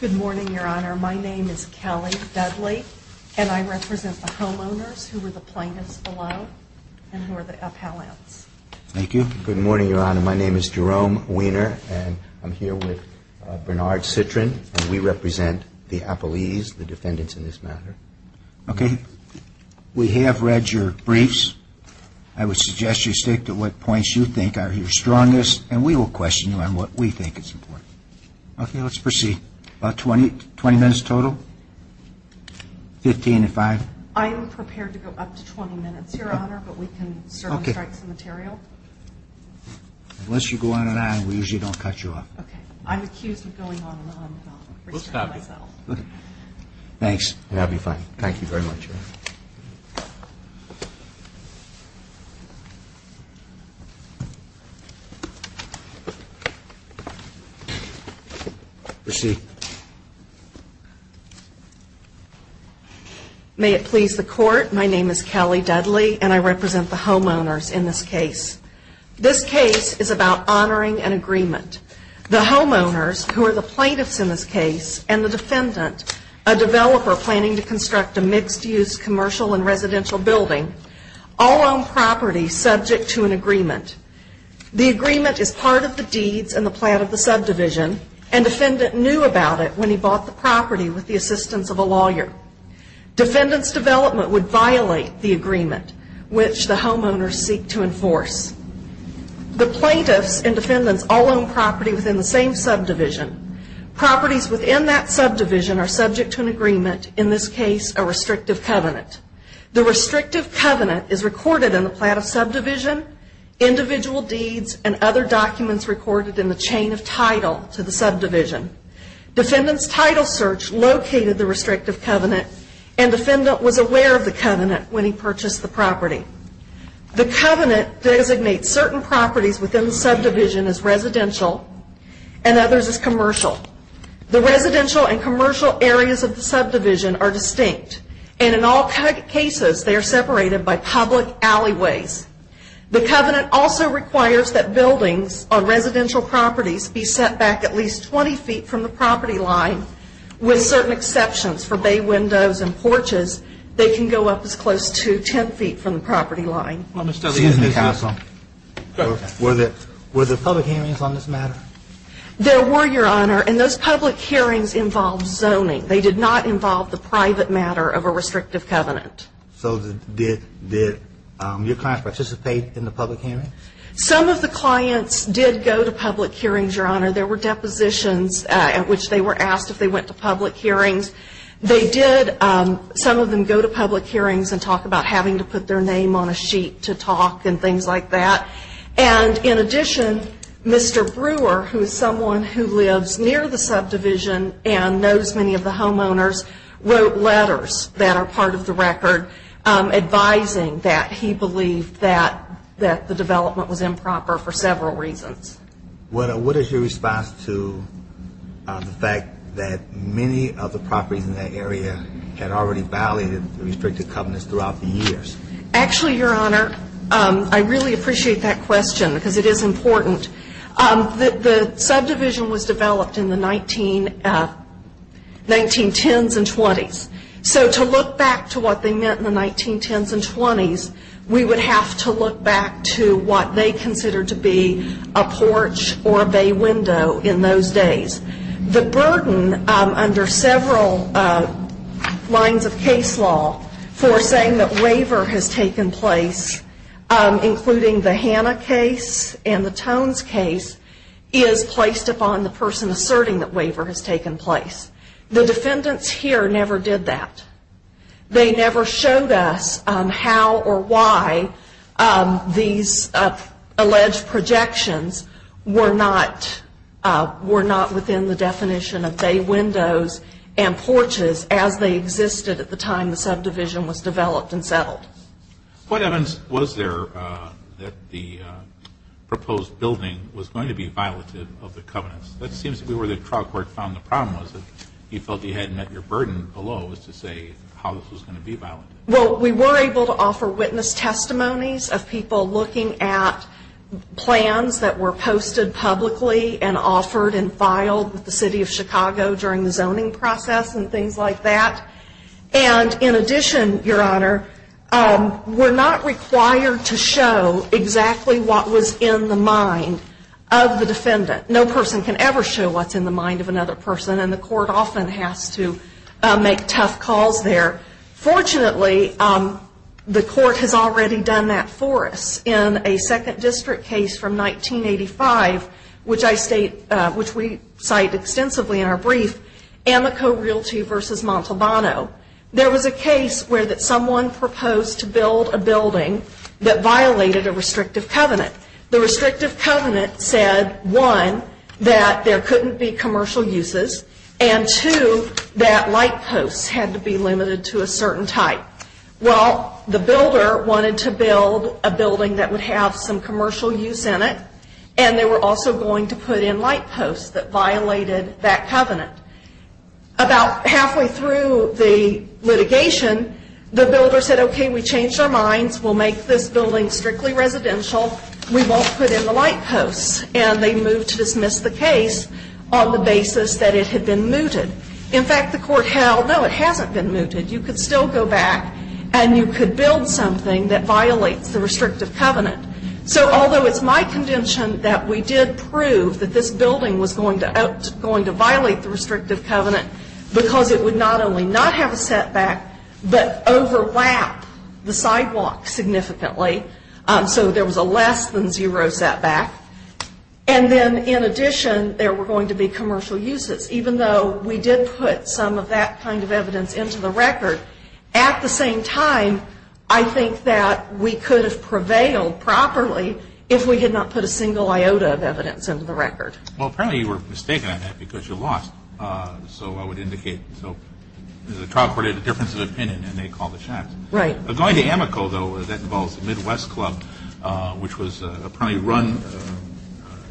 Good morning, Your Honor. My name is Kelly Dudley, and I represent the homeowners, who were the plaintiffs below, and who are the appellants. Thank you. Good morning, Your Honor. My name is Jerome Weiner, and I'm here with Bernard Citrin, and we represent the appellees, the defendants in this matter. Okay. We have read your briefs. I would suggest you state to what points you think are your strongest, and we will question you on what we think is important. Okay, let's proceed. About 20 minutes total? Fifteen to five? I am prepared to go up to 20 minutes, Your Honor, but we can certainly strike some material. Unless you go on and on, we usually don't cut you off. Okay. I'm accused of going on and on. We'll stop you. Thanks, and I'll be fine. Thank you very much, Your Honor. Proceed. May it please the Court, my name is Kelly Dudley, and I represent the homeowners in this case. This case is about honoring an agreement. The homeowners, who are the plaintiffs in this case, and the defendant, a developer planning to construct a mixed-use commercial and residential building, all own property subject to an agreement. The agreement is part of the deeds and the plan of the subdivision, and the defendant knew about it when he bought the property with the assistance of a lawyer. Defendant's development would violate the agreement, which the homeowners seek to enforce. The plaintiffs and defendants all own property within the same subdivision. Properties within that subdivision are subject to an agreement, in this case, a restrictive covenant. The restrictive covenant is recorded in the plan of subdivision, individual deeds, and other documents recorded in the chain of title to the subdivision. Defendant's title search located the restrictive covenant, and defendant was aware of the covenant when he purchased the property. The covenant designates certain properties within the subdivision as residential and others as commercial. The residential and commercial areas of the subdivision are distinct, and in all cases, they are separated by public alleyways. The covenant also requires that buildings on residential properties be set back at least 20 feet from the property line, with certain exceptions for bay windows and porches. They can go up as close to 10 feet from the property line. Well, Ms. Dudley, isn't it? Excuse me, counsel. Go ahead. Were there public hearings on this matter? There were, Your Honor, and those public hearings involved zoning. They did not involve the private matter of a restrictive covenant. So did your clients participate in the public hearing? Some of the clients did go to public hearings, Your Honor. There were depositions at which they were asked if they went to public hearings. They did. Some of them go to public hearings and talk about having to put their name on a sheet to talk and things like that. And in addition, Mr. Brewer, who is someone who lives near the subdivision and knows many of the homeowners, wrote letters that are part of the record, advising that he believed that the development was improper for several reasons. What is your response to the fact that many of the properties in that area had already violated the restrictive covenants throughout the years? Actually, Your Honor, I really appreciate that question because it is important. The subdivision was developed in the 1910s and 20s. So to look back to what they meant in the 1910s and 20s, we would have to look back to what they considered to be a porch or a bay window in those days. The burden under several lines of case law for saying that waiver has taken place, including the Hanna case and the Tones case, is placed upon the person asserting that waiver has taken place. The defendants here never did that. They never showed us how or why these alleged projections were not within the definition of bay windows and porches as they existed at the time the subdivision was developed and settled. What evidence was there that the proposed building was going to be violative of the covenants? That seems to be where the trial court found the problem was, that you felt you had met your burden below as to say how this was going to be violent. Well, we were able to offer witness testimonies of people looking at plans that were posted publicly and offered and filed with the City of Chicago during the zoning process and things like that. And in addition, Your Honor, we're not required to show exactly what was in the mind of the defendant. No person can ever show what's in the mind of another person, and the court often has to make tough calls there. Fortunately, the court has already done that for us. In a second district case from 1985, which we cite extensively in our brief, Amico Realty v. Montalbano, there was a case where someone proposed to build a building that violated a restrictive covenant. The restrictive covenant said, one, that there couldn't be commercial uses, and two, that light posts had to be limited to a certain type. Well, the builder wanted to build a building that would have some commercial use in it, and they were also going to put in light posts that violated that covenant. About halfway through the litigation, the builder said, okay, we changed our minds, we'll make this building strictly residential, we won't put in the light posts, and they moved to dismiss the case on the basis that it had been mooted. In fact, the court held, no, it hasn't been mooted, you could still go back and you could build something that violates the restrictive covenant. So although it's my contention that we did prove that this building was going to violate the restrictive covenant because it would not only not have a setback, but overlap the sidewalk significantly. So there was a less than zero setback. And then in addition, there were going to be commercial uses, even though we did put some of that kind of evidence into the record. At the same time, I think that we could have prevailed properly if we had not put a single iota of evidence into the record. Well, apparently you were mistaken on that because you lost. So I would indicate, so the trial court had a difference of opinion and they called the shots. Right. Going to Amoco, though, that involves the Midwest Club, which was apparently run,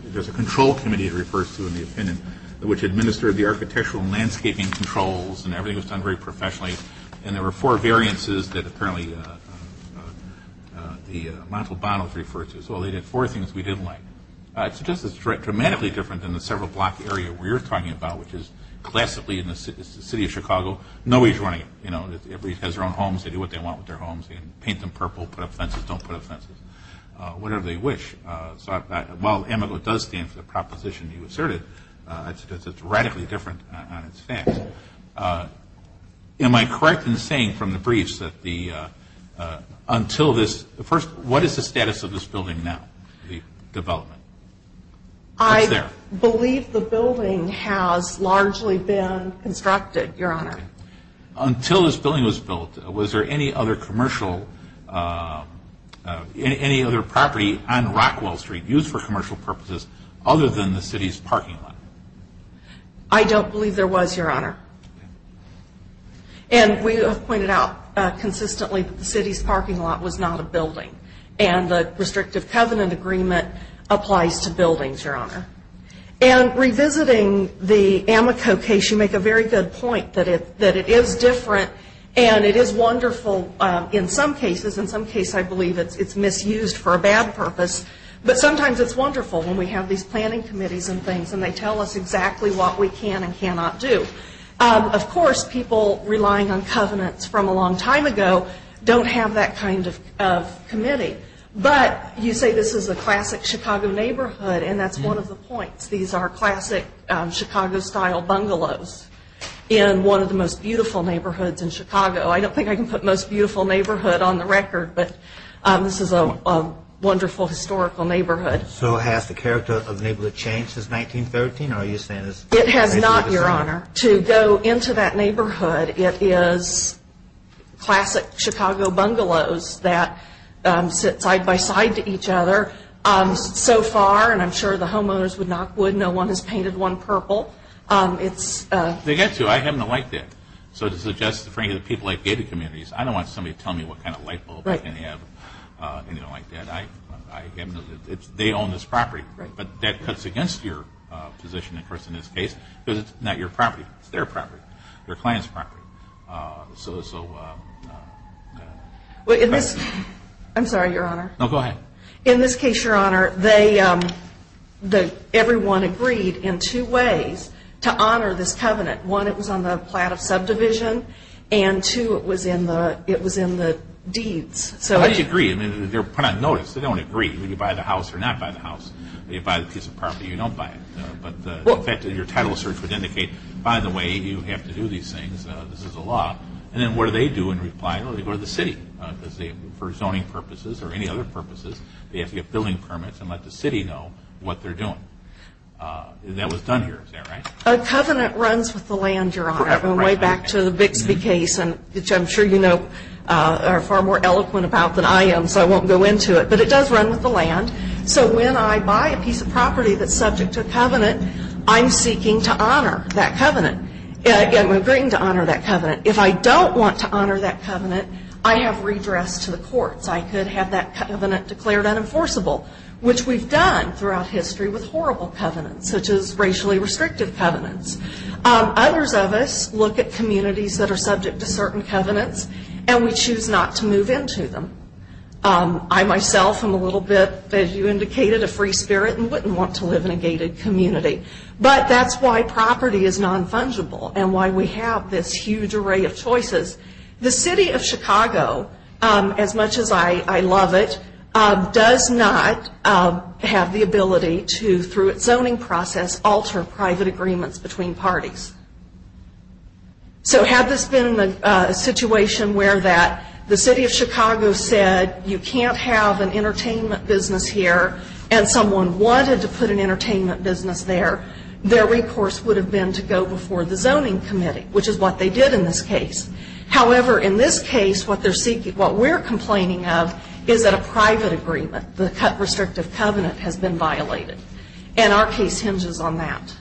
there's a control committee it refers to in the opinion, which administered the architectural and landscaping controls and everything was done very professionally. And there were four variances that apparently the Montalbanos referred to. So they did four things we didn't like. I suggest it's dramatically different than the several block area we were talking about, which is classically in the city of Chicago. Nobody's running it. Everybody has their own homes. They do what they want with their homes. They can paint them purple, put up fences, don't put up fences, whatever they wish. So while Amoco does stand for the proposition you asserted, I suggest it's radically different on its facts. Am I correct in saying from the briefs that until this first, what is the status of this building now, the development? I believe the building has largely been constructed, Your Honor. Until this building was built, was there any other commercial, any other property on Rockwell Street used for commercial purposes other than the city's parking lot? I don't believe there was, Your Honor. And we have pointed out consistently that the city's parking lot was not a building. And the restrictive covenant agreement applies to buildings, Your Honor. And revisiting the Amoco case, you make a very good point that it is different and it is wonderful in some cases. In some cases I believe it's misused for a bad purpose. But sometimes it's wonderful when we have these planning committees and things and they tell us exactly what we can and cannot do. Of course, people relying on covenants from a long time ago don't have that kind of committee. But you say this is a classic Chicago neighborhood, and that's one of the points. These are classic Chicago-style bungalows in one of the most beautiful neighborhoods in Chicago. I don't think I can put most beautiful neighborhood on the record, but this is a wonderful historical neighborhood. So has the character of the neighborhood changed since 1913? It has not, Your Honor. To go into that neighborhood, it is classic Chicago bungalows that sit side-by-side to each other. So far, and I'm sure the homeowners would knock wood, no one has painted one purple. They get to. I haven't liked it. So to suggest to people like gated communities, I don't want somebody to tell me what kind of light bulb they have or anything like that. They own this property. But that cuts against your position, of course, in this case, because it's not your property. It's their property, their client's property. I'm sorry, Your Honor. No, go ahead. In this case, Your Honor, everyone agreed in two ways to honor this covenant. One, it was on the plat of subdivision, and two, it was in the deeds. How do you agree? They're put on notice. They don't agree whether you buy the house or not buy the house. If you buy the piece of property, you don't buy it. In fact, your title search would indicate, by the way, you have to do these things. This is the law. And then what do they do in reply? They go to the city. For zoning purposes or any other purposes, they have to get building permits and let the city know what they're doing. And that was done here. Is that right? A covenant runs with the land, Your Honor, way back to the Bixby case, which I'm sure you know, are far more eloquent about than I am, so I won't go into it. But it does run with the land. So when I buy a piece of property that's subject to a covenant, I'm seeking to honor that covenant. I'm agreeing to honor that covenant. If I don't want to honor that covenant, I have redress to the courts. I could have that covenant declared unenforceable, which we've done throughout history with horrible covenants, such as racially restrictive covenants. Others of us look at communities that are subject to certain covenants and we choose not to move into them. I myself am a little bit, as you indicated, a free spirit and wouldn't want to live in a gated community. But that's why property is non-fungible and why we have this huge array of choices. The city of Chicago, as much as I love it, does not have the ability to, through its zoning process, alter private agreements between parties. So had this been a situation where the city of Chicago said you can't have an entertainment business here and someone wanted to put an entertainment business there, their recourse would have been to go before the zoning committee, which is what they did in this case. However, in this case, what we're complaining of is that a private agreement, the restrictive covenant, has been violated. And our case hinges on that.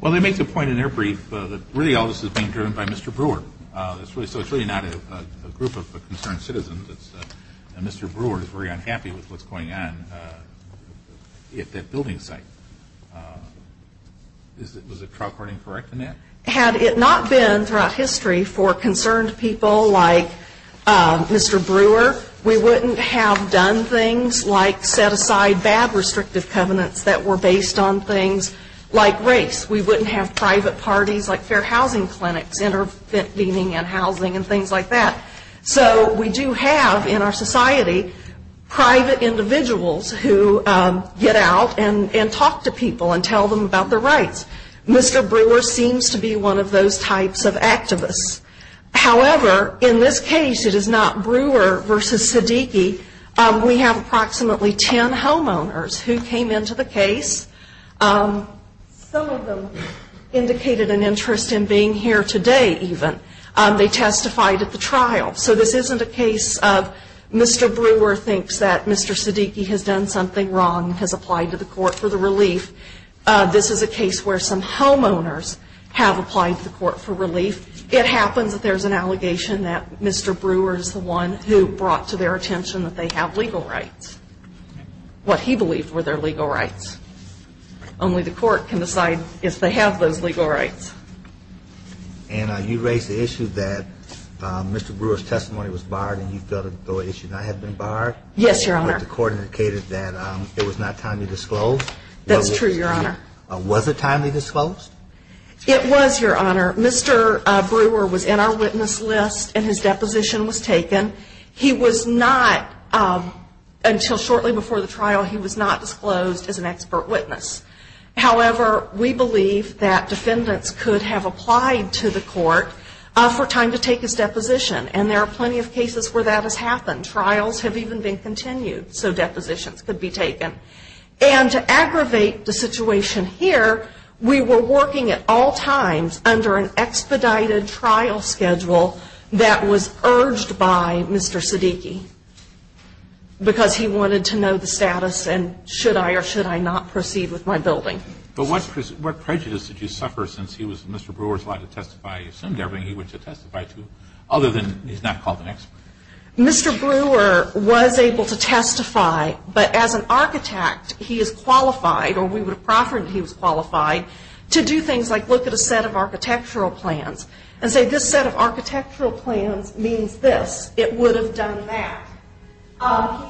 Well, they make the point in their brief that really all this is being driven by Mr. Brewer. So it's really not a group of concerned citizens. Mr. Brewer is very unhappy with what's going on at that building site. Was the trial court incorrect in that? Had it not been throughout history for concerned people like Mr. Brewer, we wouldn't have done things like set aside bad restrictive covenants that were based on things like race. We wouldn't have private parties like fair housing clinics, intervening in housing and things like that. So we do have in our society private individuals who get out and talk to people and tell them about their rights. However, in this case, it is not Brewer versus Siddiqui. We have approximately ten homeowners who came into the case. Some of them indicated an interest in being here today even. They testified at the trial. So this isn't a case of Mr. Brewer thinks that Mr. Siddiqui has done something wrong and has applied to the court for the relief. This is a case where some homeowners have applied to the court for relief. It happens that there's an allegation that Mr. Brewer is the one who brought to their attention that they have legal rights, what he believed were their legal rights. Only the court can decide if they have those legal rights. And you raised the issue that Mr. Brewer's testimony was barred and you felt the issue had not been barred. Yes, Your Honor. But the court indicated that it was not timely disclosed. That's true, Your Honor. Was it timely disclosed? It was, Your Honor. Mr. Brewer was in our witness list and his deposition was taken. He was not, until shortly before the trial, he was not disclosed as an expert witness. However, we believe that defendants could have applied to the court for time to take his deposition. And there are plenty of cases where that has happened. Trials have even been continued so depositions could be taken. And to aggravate the situation here, we were working at all times under an expedited trial schedule that was urged by Mr. Siddiqui because he wanted to know the status and should I or should I not proceed with my building. But what prejudice did you suffer since he was Mr. Brewer's lie to testify? You assumed everything he was to testify to other than he's not called an expert. Mr. Brewer was able to testify, but as an architect he is qualified or we would have proffered that he was qualified to do things like look at a set of architectural plans and say this set of architectural plans means this. It would have done that. He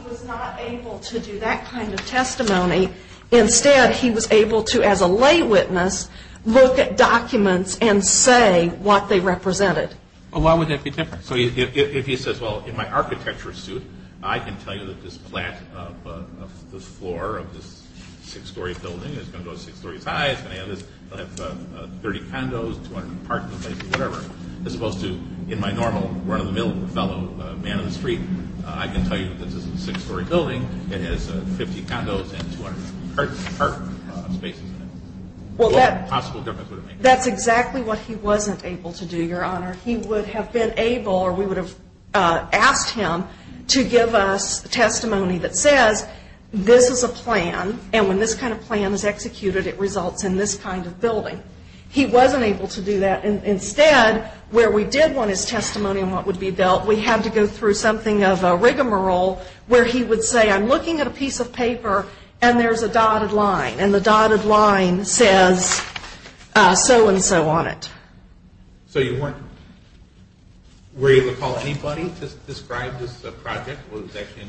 was not able to do that kind of testimony. Instead, he was able to, as a lay witness, look at documents and say what they represented. Well, why would that be different? So if he says, well, in my architectural suit I can tell you that this flat of the floor of this six-story building is going to go six stories high, it's going to have 30 condos, 200 apartments, whatever, as opposed to in my normal run-of-the-mill fellow man-in-the-street, I can tell you that this is a six-story building, it has 50 condos and 200 apartments. Well, that's exactly what he wasn't able to do, Your Honor. He would have been able or we would have asked him to give us testimony that says this is a plan and when this kind of plan is executed it results in this kind of building. He wasn't able to do that. Instead, where we did want his testimony on what would be built, we had to go through something of a rigmarole where he would say I'm looking at a piece of paper and there's a dotted line and the dotted line says so-and-so on it. So you weren't able to call anybody to describe this project?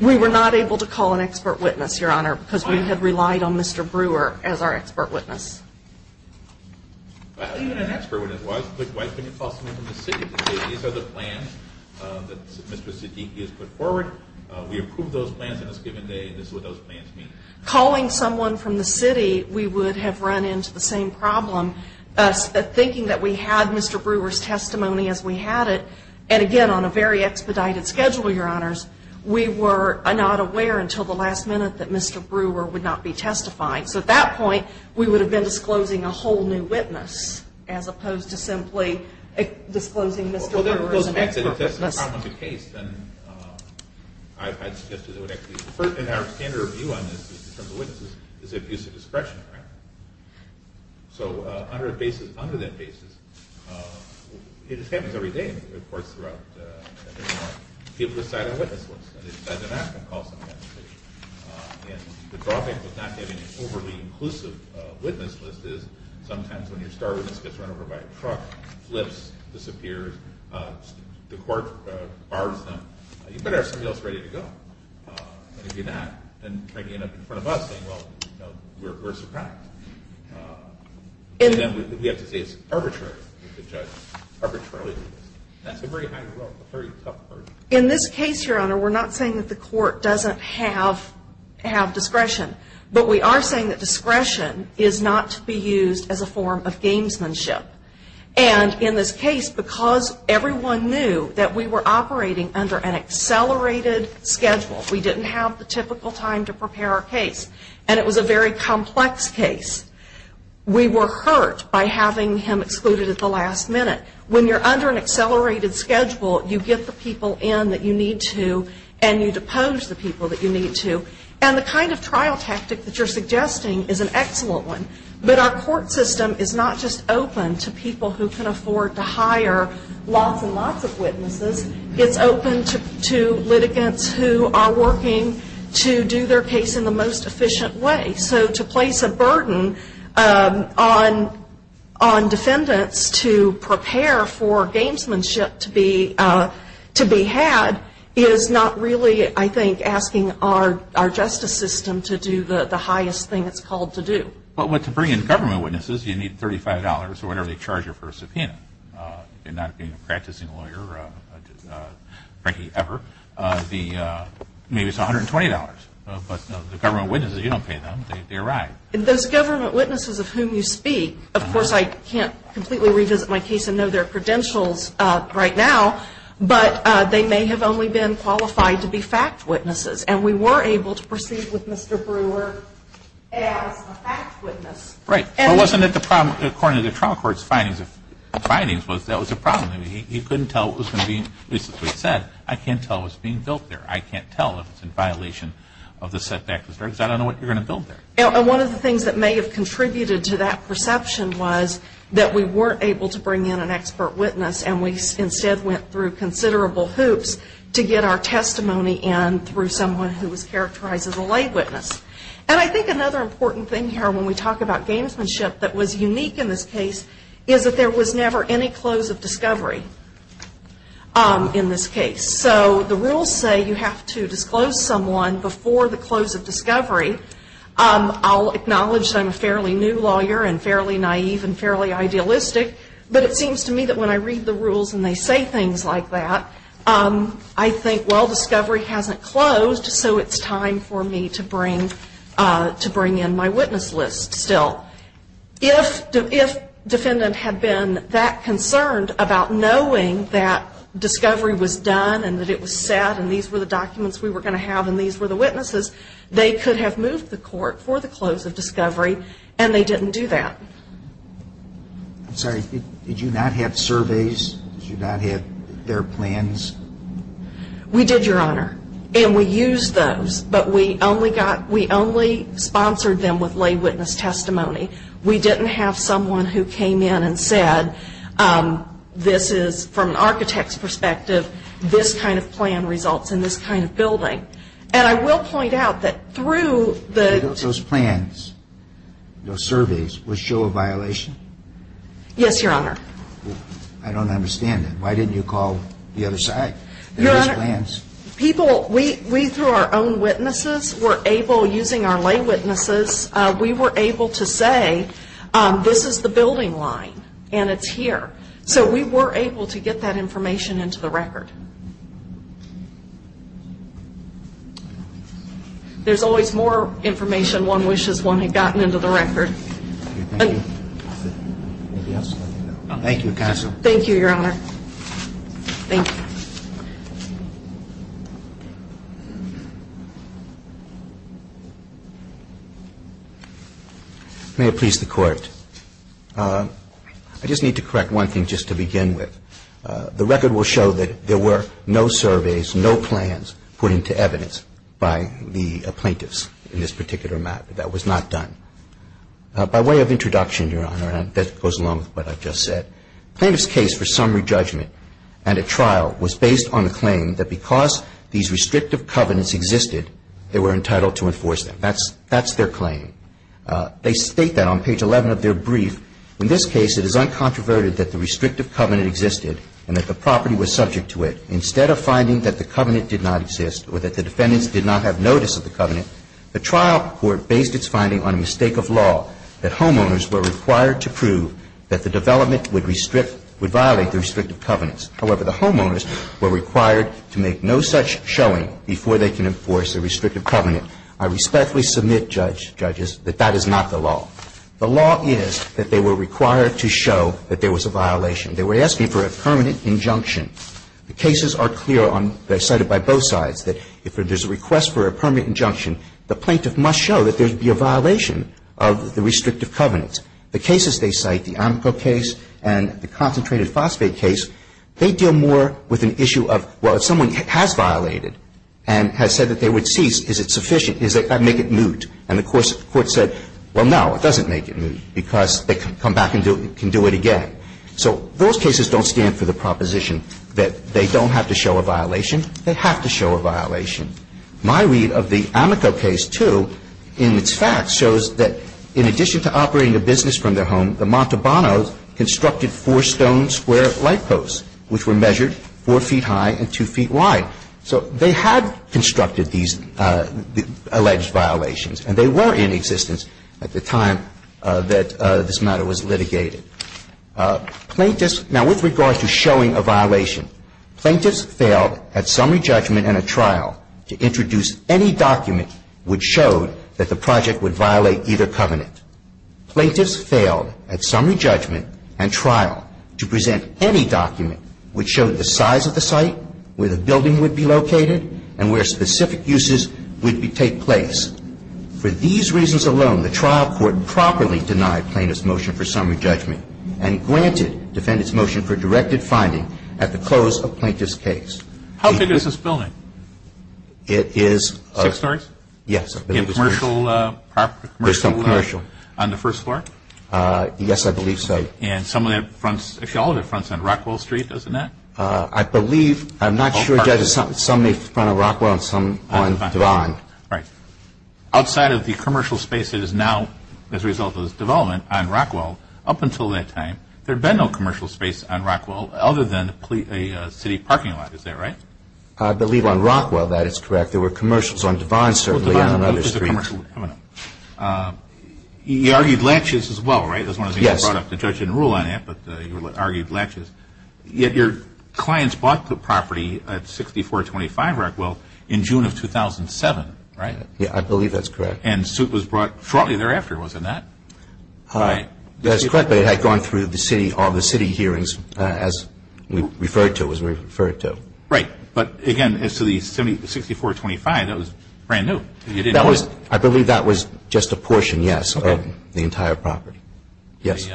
We were not able to call an expert witness, Your Honor, because we had relied on Mr. Brewer as our expert witness. Even an expert witness, why couldn't you call someone from the city to say these are the plans that Mr. Siddiqui has put forward, we approve those plans on this given day and this is what those plans mean? Calling someone from the city, we would have run into the same problem, thinking that we had Mr. Brewer's testimony as we had it, and again on a very expedited schedule, Your Honors, we were not aware until the last minute that Mr. Brewer would not be testifying. So at that point, we would have been disclosing a whole new witness as opposed to simply disclosing Mr. Brewer as an expert witness. If that's not the case, then I'd suggest that it would actually be and our standard view on this in terms of witnesses is abuse of discretion, right? So under that basis, it just happens every day in the courts throughout, people decide on a witness list and they decide they're not going to call someone from the city. And the drawback of not getting an overly inclusive witness list is sometimes when your star witness gets run over by a truck, flips, disappears, the court bars them, you better have somebody else ready to go. But if you do that, then you end up in front of us saying, well, we're Socratic. And then we have to say it's arbitrary. We have to judge arbitrarily. That's a very, I don't know, a very tough word. In this case, Your Honor, we're not saying that the court doesn't have discretion, but we are saying that discretion is not to be used as a form of gamesmanship. And in this case, because everyone knew that we were operating under an accelerated schedule, we didn't have the typical time to prepare our case, and it was a very complex case, we were hurt by having him excluded at the last minute. When you're under an accelerated schedule, you get the people in that you need to and you depose the people that you need to. And the kind of trial tactic that you're suggesting is an excellent one, but our court system is not just open to people who can afford to hire lots and lots of witnesses. It's open to litigants who are working to do their case in the most efficient way. So to place a burden on defendants to prepare for gamesmanship to be had is not really, I think, asking our justice system to do the highest thing it's called to do. But to bring in government witnesses, you need $35 or whatever they charge you for a subpoena. You're not being a practicing lawyer, Frankie, ever. Maybe it's $120, but the government witnesses, you don't pay them, they arrive. Those government witnesses of whom you speak, of course, I can't completely revisit my case and know their credentials right now, but they may have only been qualified to be fact witnesses. And we were able to proceed with Mr. Brewer as a fact witness. Right. Well, wasn't it the problem, according to the trial court's findings, that was a problem? He couldn't tell what was going to be said. I can't tell what's being built there. I can't tell if it's in violation of the setback. I don't know what you're going to build there. One of the things that may have contributed to that perception was that we weren't able to bring in an expert witness and we instead went through considerable hoops to get our testimony in through someone who was characterized as a lay witness. And I think another important thing here when we talk about gamesmanship that was unique in this case is that there was never any close of discovery in this case. So the rules say you have to disclose someone before the close of discovery. I'll acknowledge that I'm a fairly new lawyer and fairly naive and fairly idealistic, but it seems to me that when I read the rules and they say things like that, I think, well, discovery hasn't closed, so it's time for me to bring in my witness list still. If defendant had been that concerned about knowing that discovery was done and that it was set and these were the documents we were going to have and these were the witnesses, they could have moved the court for the close of discovery and they didn't do that. I'm sorry. Did you not have surveys? Did you not have their plans? We did, Your Honor, and we used those, but we only got, we only sponsored them with lay witness testimony. We didn't have someone who came in and said this is, from an architect's perspective, this kind of plan results in this kind of building. And I will point out that through the ---- Those plans, those surveys, would show a violation? Yes, Your Honor. I don't understand that. Why didn't you call the other side? Your Honor, people, we, through our own witnesses, were able, using our lay witnesses, we were able to say this is the building line and it's here. So we were able to get that information into the record. There's always more information one wishes one had gotten into the record. Thank you. Anything else? Thank you, counsel. Thank you, Your Honor. Thank you. May it please the Court. I just need to correct one thing just to begin with. The record will show that there were no surveys, no plans put into evidence by the plaintiffs in this particular matter. That was not done. By way of introduction, Your Honor, and that goes along with what I've just said, plaintiff's case for summary judgment and a trial was based on the claim that because these restrictive covenants existed, they were entitled to enforce them. That's their claim. They state that on page 11 of their brief. In this case, it is uncontroverted that the restrictive covenant existed and that the property was subject to it. Instead of finding that the covenant did not exist or that the defendants did not have notice of the covenant, the trial court based its finding on a mistake of law, that homeowners were required to prove that the development would restrict, would violate the restrictive covenants. However, the homeowners were required to make no such showing before they can enforce a restrictive covenant. I respectfully submit, Judge Judges, that that is not the law. The law is that they were required to show that there was a violation. They were asking for a permanent injunction. The cases are clear on they're cited by both sides, that if there's a request for a permanent injunction, the plaintiff must show that there would be a violation of the restrictive covenant. The cases they cite, the Amco case and the concentrated phosphate case, they deal more with an issue of, well, if someone has violated and has said that they would And the reason that the Amco case is so efficient is they make it moot. And the court said, well, no, it doesn't make it moot because they can come back and do it again. So those cases don't stand for the proposition that they don't have to show a violation. They have to show a violation. My read of the Amoco case, too, in its facts shows that in addition to operating a business from their home, the Montalbano's constructed four stone square light windows, which were measured four feet high and two feet wide. So they had constructed these alleged violations. And they were in existence at the time that this matter was litigated. Plaintiffs, now with regard to showing a violation, plaintiffs failed at summary judgment and a trial to introduce any document which showed that the project would violate either covenant. Plaintiffs failed at summary judgment and trial to present any document which showed the size of the site, where the building would be located, and where specific uses would take place. For these reasons alone, the trial court properly denied plaintiff's motion for summary judgment and granted defendant's motion for directed finding at the close of plaintiff's case. How big is this building? It is Six stories? Yes. Commercial? There's some commercial. On the first floor? Yes, I believe so. And some of that fronts, actually all of it fronts on Rockwell Street, doesn't it? I believe, I'm not sure. Some may front on Rockwell and some on Devon. Right. Outside of the commercial space that is now as a result of this development on Rockwell, up until that time, there had been no commercial space on Rockwell other than a city parking lot. Is that right? I believe on Rockwell that is correct. There were commercials on Devon, certainly, and on other streets. You argued laches as well, right? Yes. The judge didn't rule on that, but you argued laches. Yet your clients bought the property at 6425 Rockwell in June of 2007, right? Yes, I believe that's correct. And the suit was brought shortly thereafter, was it not? That's correct, but it had gone through the city, all the city hearings, as we referred to, as we referred to. Right. But again, as to the 6425, that was brand new. I believe that was just a portion, yes, of the entire property. Yes.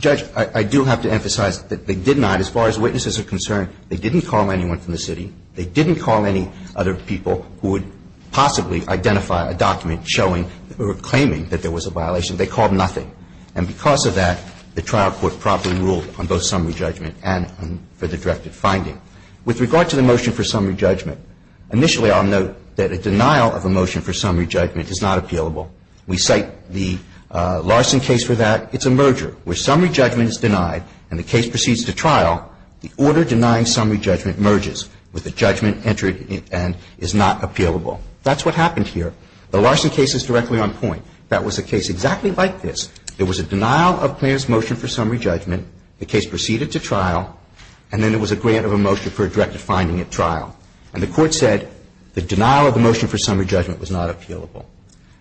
Judge, I do have to emphasize that they did not, as far as witnesses are concerned, they didn't call anyone from the city. They didn't call any other people who would possibly identify a document showing or claiming that there was a violation. They called nothing. And because of that, the trial court promptly ruled on both summary judgment and summary judgment for the directed finding. With regard to the motion for summary judgment, initially I'll note that a denial of a motion for summary judgment is not appealable. We cite the Larson case for that. It's a merger. Where summary judgment is denied and the case proceeds to trial, the order denying summary judgment merges with the judgment entered and is not appealable. That's what happened here. The Larson case is directly on point. That was a case exactly like this. There was a denial of plaintiff's motion for summary judgment. The case proceeded to trial. And then there was a grant of a motion for a directed finding at trial. And the Court said the denial of a motion for summary judgment was not appealable.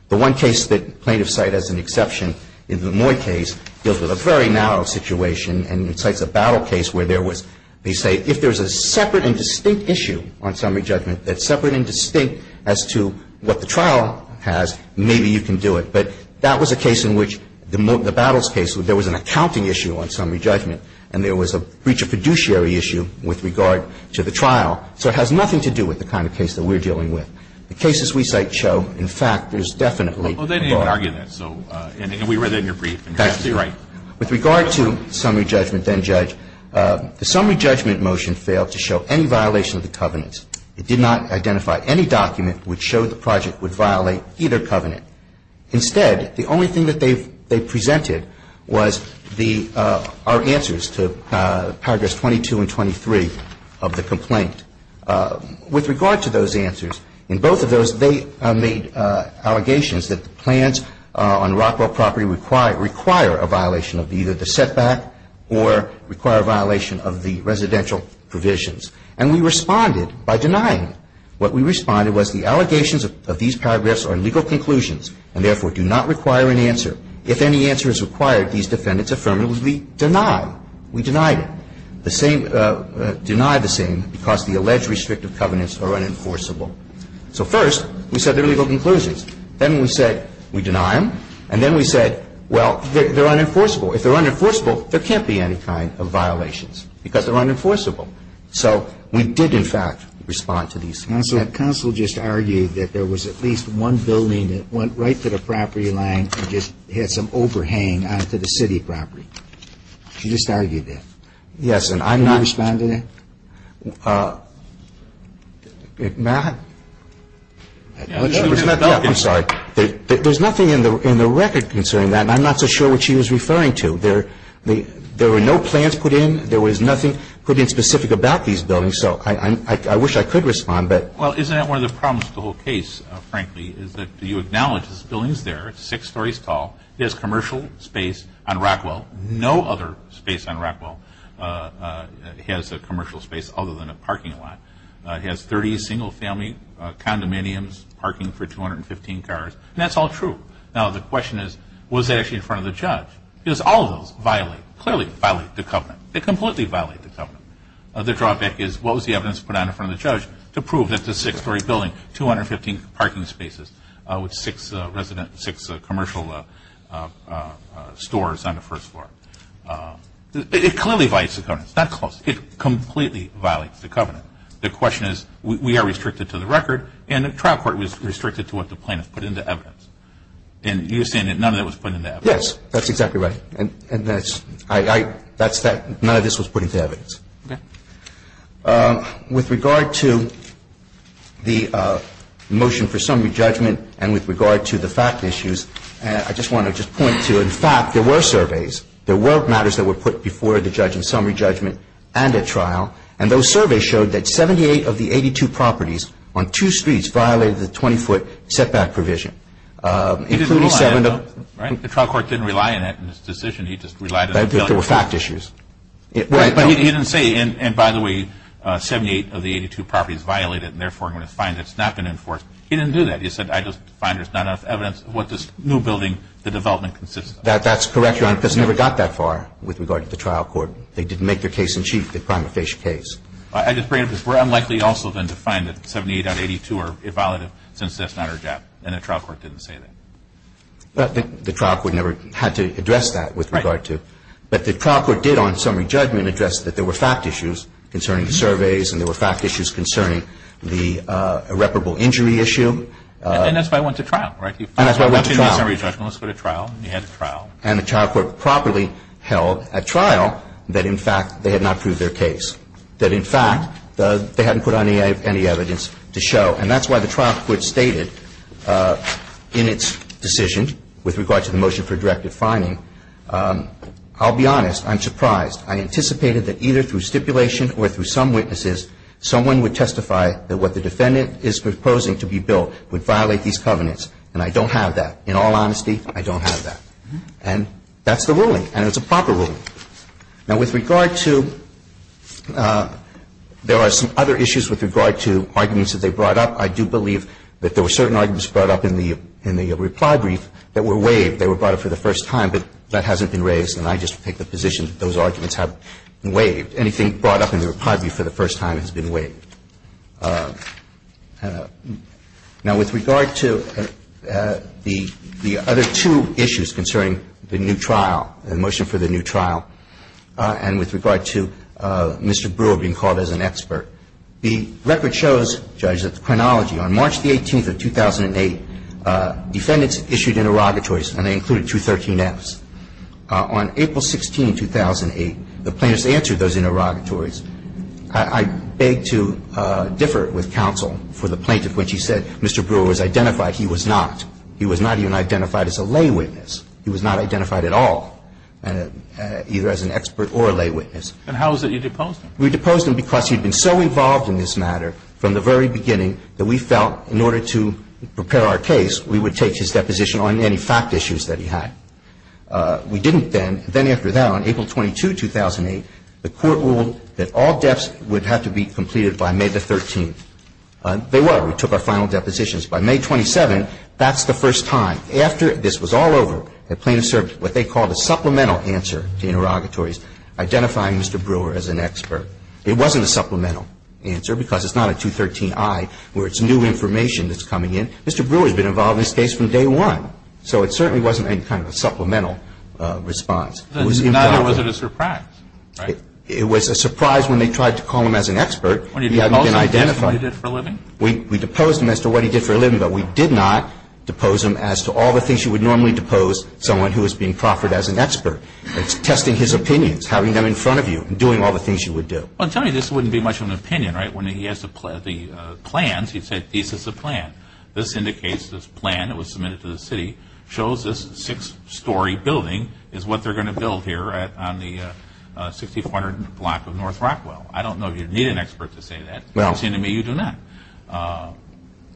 The one case that plaintiffs cite as an exception in the Lemoyne case deals with a very narrow situation and cites a battle case where there was, they say, if there is a separate and distinct issue on summary judgment that's separate and distinct as to what the trial has, maybe you can do it. But that was a case in which the battles case, there was an accounting issue on summary judgment and there was a breach of fiduciary issue with regard to the trial. So it has nothing to do with the kind of case that we're dealing with. The cases we cite show, in fact, there's definitely a bar. And we read that in your brief. That's true. With regard to summary judgment, then judge, the summary judgment motion failed to show any violation of the covenants. It did not identify any document which showed the project would violate either covenant. Instead, the only thing that they presented was our answers to paragraphs 22 and 23 of the complaint. With regard to those answers, in both of those they made allegations that the plans on Rockwell property require a violation of either the setback or require a violation of the residential provisions. And we responded by denying it. What we responded was the allegations of these paragraphs are legal conclusions and therefore do not require an answer. If any answer is required, these defendants affirmatively deny. We denied it. The same, denied the same because the alleged restrictive covenants are unenforceable. So first we said they're legal conclusions. Then we said we deny them. And then we said, well, they're unenforceable. If they're unenforceable, there can't be any kind of violations because they're unenforceable. So we did, in fact, respond to these. And so that counsel just argued that there was at least one building that went right to the property line and just had some overhang onto the city property. She just argued that. Yes. And I'm not responding to that. There's nothing in the record concerning that. And I'm not so sure what she was referring to. There were no plans put in. There was nothing put in specific about these buildings. So I wish I could respond. Well, isn't that one of the problems with the whole case, frankly, is that you acknowledge this building is there. It's six stories tall. It has commercial space on Rockwell. No other space on Rockwell has a commercial space other than a parking lot. It has 30 single-family condominiums, parking for 215 cars. And that's all true. Now, the question is, was it actually in front of the judge? Because all of those violate, clearly violate the covenant. They completely violate the covenant. The drawback is what was the evidence put on in front of the judge to prove that this is a six-story building, 215 parking spaces, with six residential, six commercial stores on the first floor. It clearly violates the covenant. It's not close. It completely violates the covenant. The question is, we are restricted to the record, and the trial court was restricted to what the plaintiff put into evidence. And you're saying that none of that was put into evidence. Yes, that's exactly right. And that's, I, I, that's that, none of this was put into evidence. Okay. With regard to the motion for summary judgment and with regard to the fact issues, I just want to just point to, in fact, there were surveys. There were matters that were put before the judge in summary judgment and at trial, and those surveys showed that 78 of the 82 properties on two streets violated the 20-foot setback provision. The trial court didn't rely on that in his decision. He just relied on the fact issues. But he didn't say, and by the way, 78 of the 82 properties violated, and therefore, I'm going to find it's not been enforced. He didn't do that. He said, I just find there's not enough evidence of what this new building, the development consists of. That's correct, Your Honor, because it never got that far with regard to the trial court. They didn't make their case in chief, the prima facie case. I just bring it up because we're unlikely also then to find that 78 out of 82 are in effect. And the trial court did not put any evidence to show that that's not our job. And the trial court didn't say that. The trial court never had to address that with regard to. Right. But the trial court did on summary judgment address that there were fact issues concerning the surveys and there were fact issues concerning the irreparable injury issue. And that's why it went to trial. Right? And that's why it went to trial. One is summary judgment, let's put it to trial, you have to trial. And the trial court properly held at trial that, in fact, they had not proved their case, that, in fact, they hadn't put on any evidence to show. And that's why the trial court stated in its decision with regard to the motion for directive finding, I'll be honest, I'm surprised. I anticipated that either through stipulation or through some witnesses, someone would testify that what the defendant is proposing to be billed would violate these covenants. And I don't have that. In all honesty, I don't have that. And that's the ruling. And it's a proper ruling. Now, with regard to – there are some other issues with regard to arguments that they brought up. I do believe that there were certain arguments brought up in the reply brief that were waived. They were brought up for the first time, but that hasn't been raised and I just take the position that those arguments have been waived. Anything brought up in the reply brief for the first time has been waived. Now, with regard to the other two issues concerning the new trial, the motion for the new trial, and with regard to Mr. Brewer being called as an expert, the record shows, Judge, that the chronology on March the 18th of 2008, defendants issued interrogatories and they included 213Fs. On April 16, 2008, the plaintiffs answered those interrogatories. I beg to differ with counsel for the plaintiff when she said Mr. Brewer was identified. He was not. He was not even identified as a lay witness. He was not identified at all, either as an expert or a lay witness. And how is it you deposed him? We deposed him because he had been so involved in this matter from the very beginning that we felt in order to prepare our case, we would take his deposition on any fact issues that he had. We didn't then. Then after that, on April 22, 2008, the Court ruled that all deaths would have to be completed by May the 13th. They were. We took our final depositions. By May 27, that's the first time. After this was all over, the plaintiffs served what they called a supplemental answer to interrogatories identifying Mr. Brewer as an expert. It wasn't a supplemental answer because it's not a 213I where it's new information that's coming in. Mr. Brewer has been involved in this case from day one. So it certainly wasn't any kind of a supplemental response. Neither was it a surprise, right? It was a surprise when they tried to call him as an expert. He hadn't been identified. When you deposed him, that's what he did for a living? We deposed him as to what he did for a living, but we did not depose him as to all the things you would normally depose someone who was being proffered as an expert. It's testing his opinions, having them in front of you, and doing all the things you would do. Well, tell me, this wouldn't be much of an opinion, right? When he has the plans, he'd say, these are the plans. This indicates this plan that was submitted to the city shows this six-story building is what they're going to build here on the 6400 block of North Rockwell. I don't know if you'd need an expert to say that. Well. It seems to me you do not.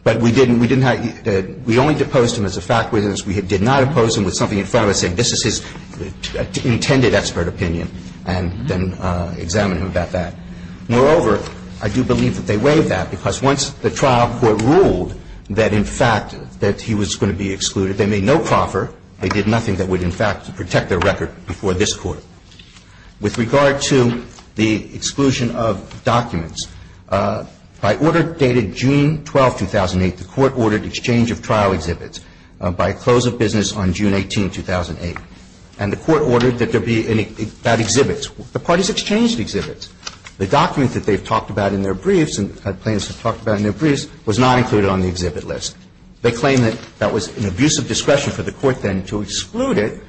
But we didn't. We only deposed him as a fact witness. We did not depose him with something in front of us saying this is his intended expert opinion, and then examine him about that. Moreover, I do believe that they waived that because once the trial court ruled that, in fact, that he was going to be excluded, they made no proffer. They did nothing that would, in fact, protect their record before this Court. With regard to the exclusion of documents, by order dated June 12, 2008, the Court ordered exchange of trial exhibits by close of business on June 18, 2008. And the Court ordered that there be any bad exhibits. The parties exchanged exhibits. The document that they've talked about in their briefs and had plans to talk about in their briefs was not included on the exhibit list. They claim that that was an abuse of discretion for the Court then to exclude it,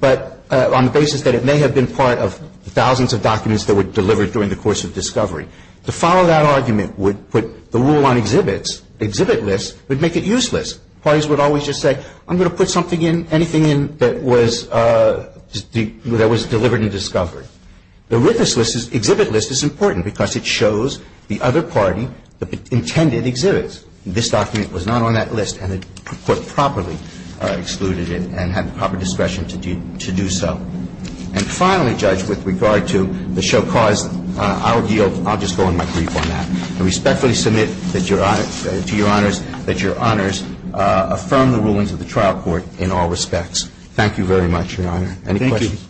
but on the basis that it may have been part of thousands of documents that were delivered during the course of discovery. To follow that argument would put the rule on exhibits, exhibit lists, would make it useless. Parties would always just say I'm going to put something in, anything in, that was delivered and discovered. The witness list's exhibit list is important because it shows the other party the intended exhibits. This document was not on that list, and the Court properly excluded it and had the proper discretion to do so. And finally, Judge, with regard to the show cause, I will yield. I'll just go on my brief on that. I respectfully submit to Your Honors that Your Honors affirm the rulings of the trial court in all respects. Thank you very much, Your Honor. Any questions?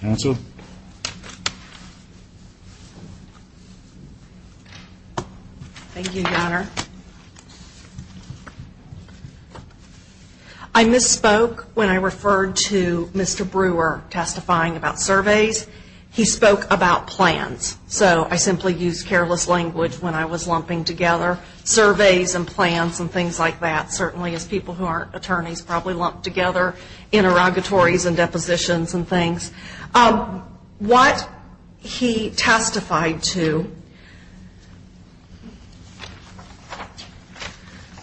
Counsel? Thank you, Your Honor. I misspoke when I referred to Mr. Brewer testifying about surveys. He spoke about plans, so I simply used careless language when I was lumping together. Surveys and plans and things like that, certainly as people who aren't attorneys probably lump together interrogatories and depositions and things. What he testified to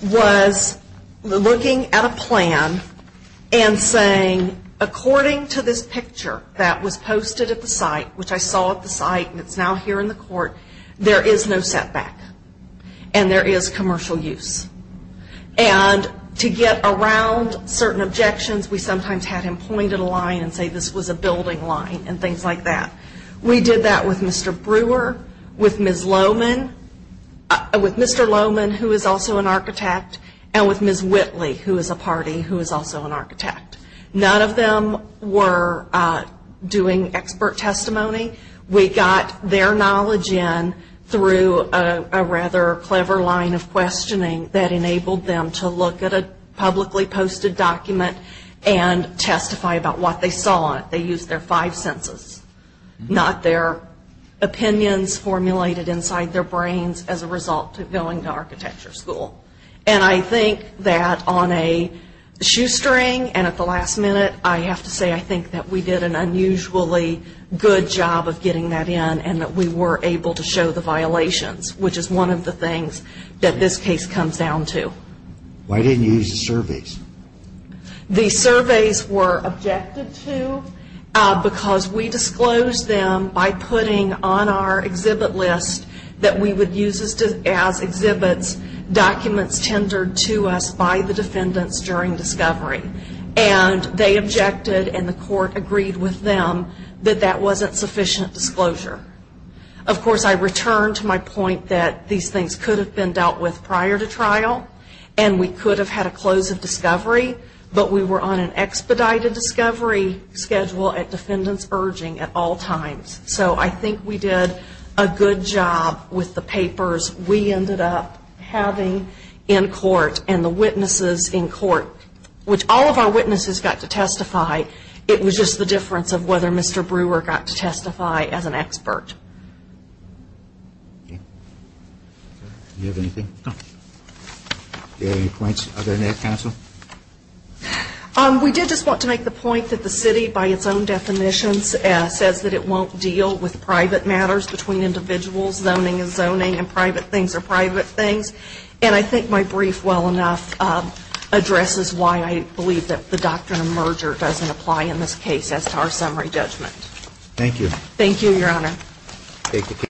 was looking at a plan and saying, according to this picture that was posted at the site, which I saw at the site and it's now here in the court, there is no setback and there is commercial use. And to get around certain objections, we sometimes had him point at a line and say this was a building line and things like that. We did that with Mr. Brewer, with Ms. Lowman, with Mr. Lowman, who is also an architect, and with Ms. Whitley, who is a party, who is also an architect. None of them were doing expert testimony. We got their knowledge in through a rather clever line of questioning that enabled them to look at a publicly posted document and testify about what they saw. They used their five senses, not their opinions formulated inside their brains as a result of going to architecture school. And I think that on a shoestring and at the last minute, I have to say I think that we did an unusually good job of getting that in and that we were able to show the violations, which is one of the things that this case comes down to. Why didn't you use the surveys? The surveys were objected to because we disclosed them by putting on our exhibit list that we would use as exhibits documents tendered to us by the defendants during discovery. And they objected and the court agreed with them that that wasn't sufficient disclosure. Of course, I return to my point that these things could have been dealt with prior to trial and we could have had a close of discovery, but we were on an expedited discovery schedule at defendants urging at all times. So I think we did a good job with the papers we ended up having in court and the testify, it was just the difference of whether Mr. Brewer got to testify as an expert. Okay. Do you have anything? No. Do you have any points other than that, counsel? We did just want to make the point that the city by its own definitions says that it won't deal with private matters between individuals. Zoning is zoning and private things are private things. And I think my brief well enough addresses why I believe that the doctrine of merger doesn't apply in this case as to our summary judgment. Thank you. Thank you, Your Honor. Thank you.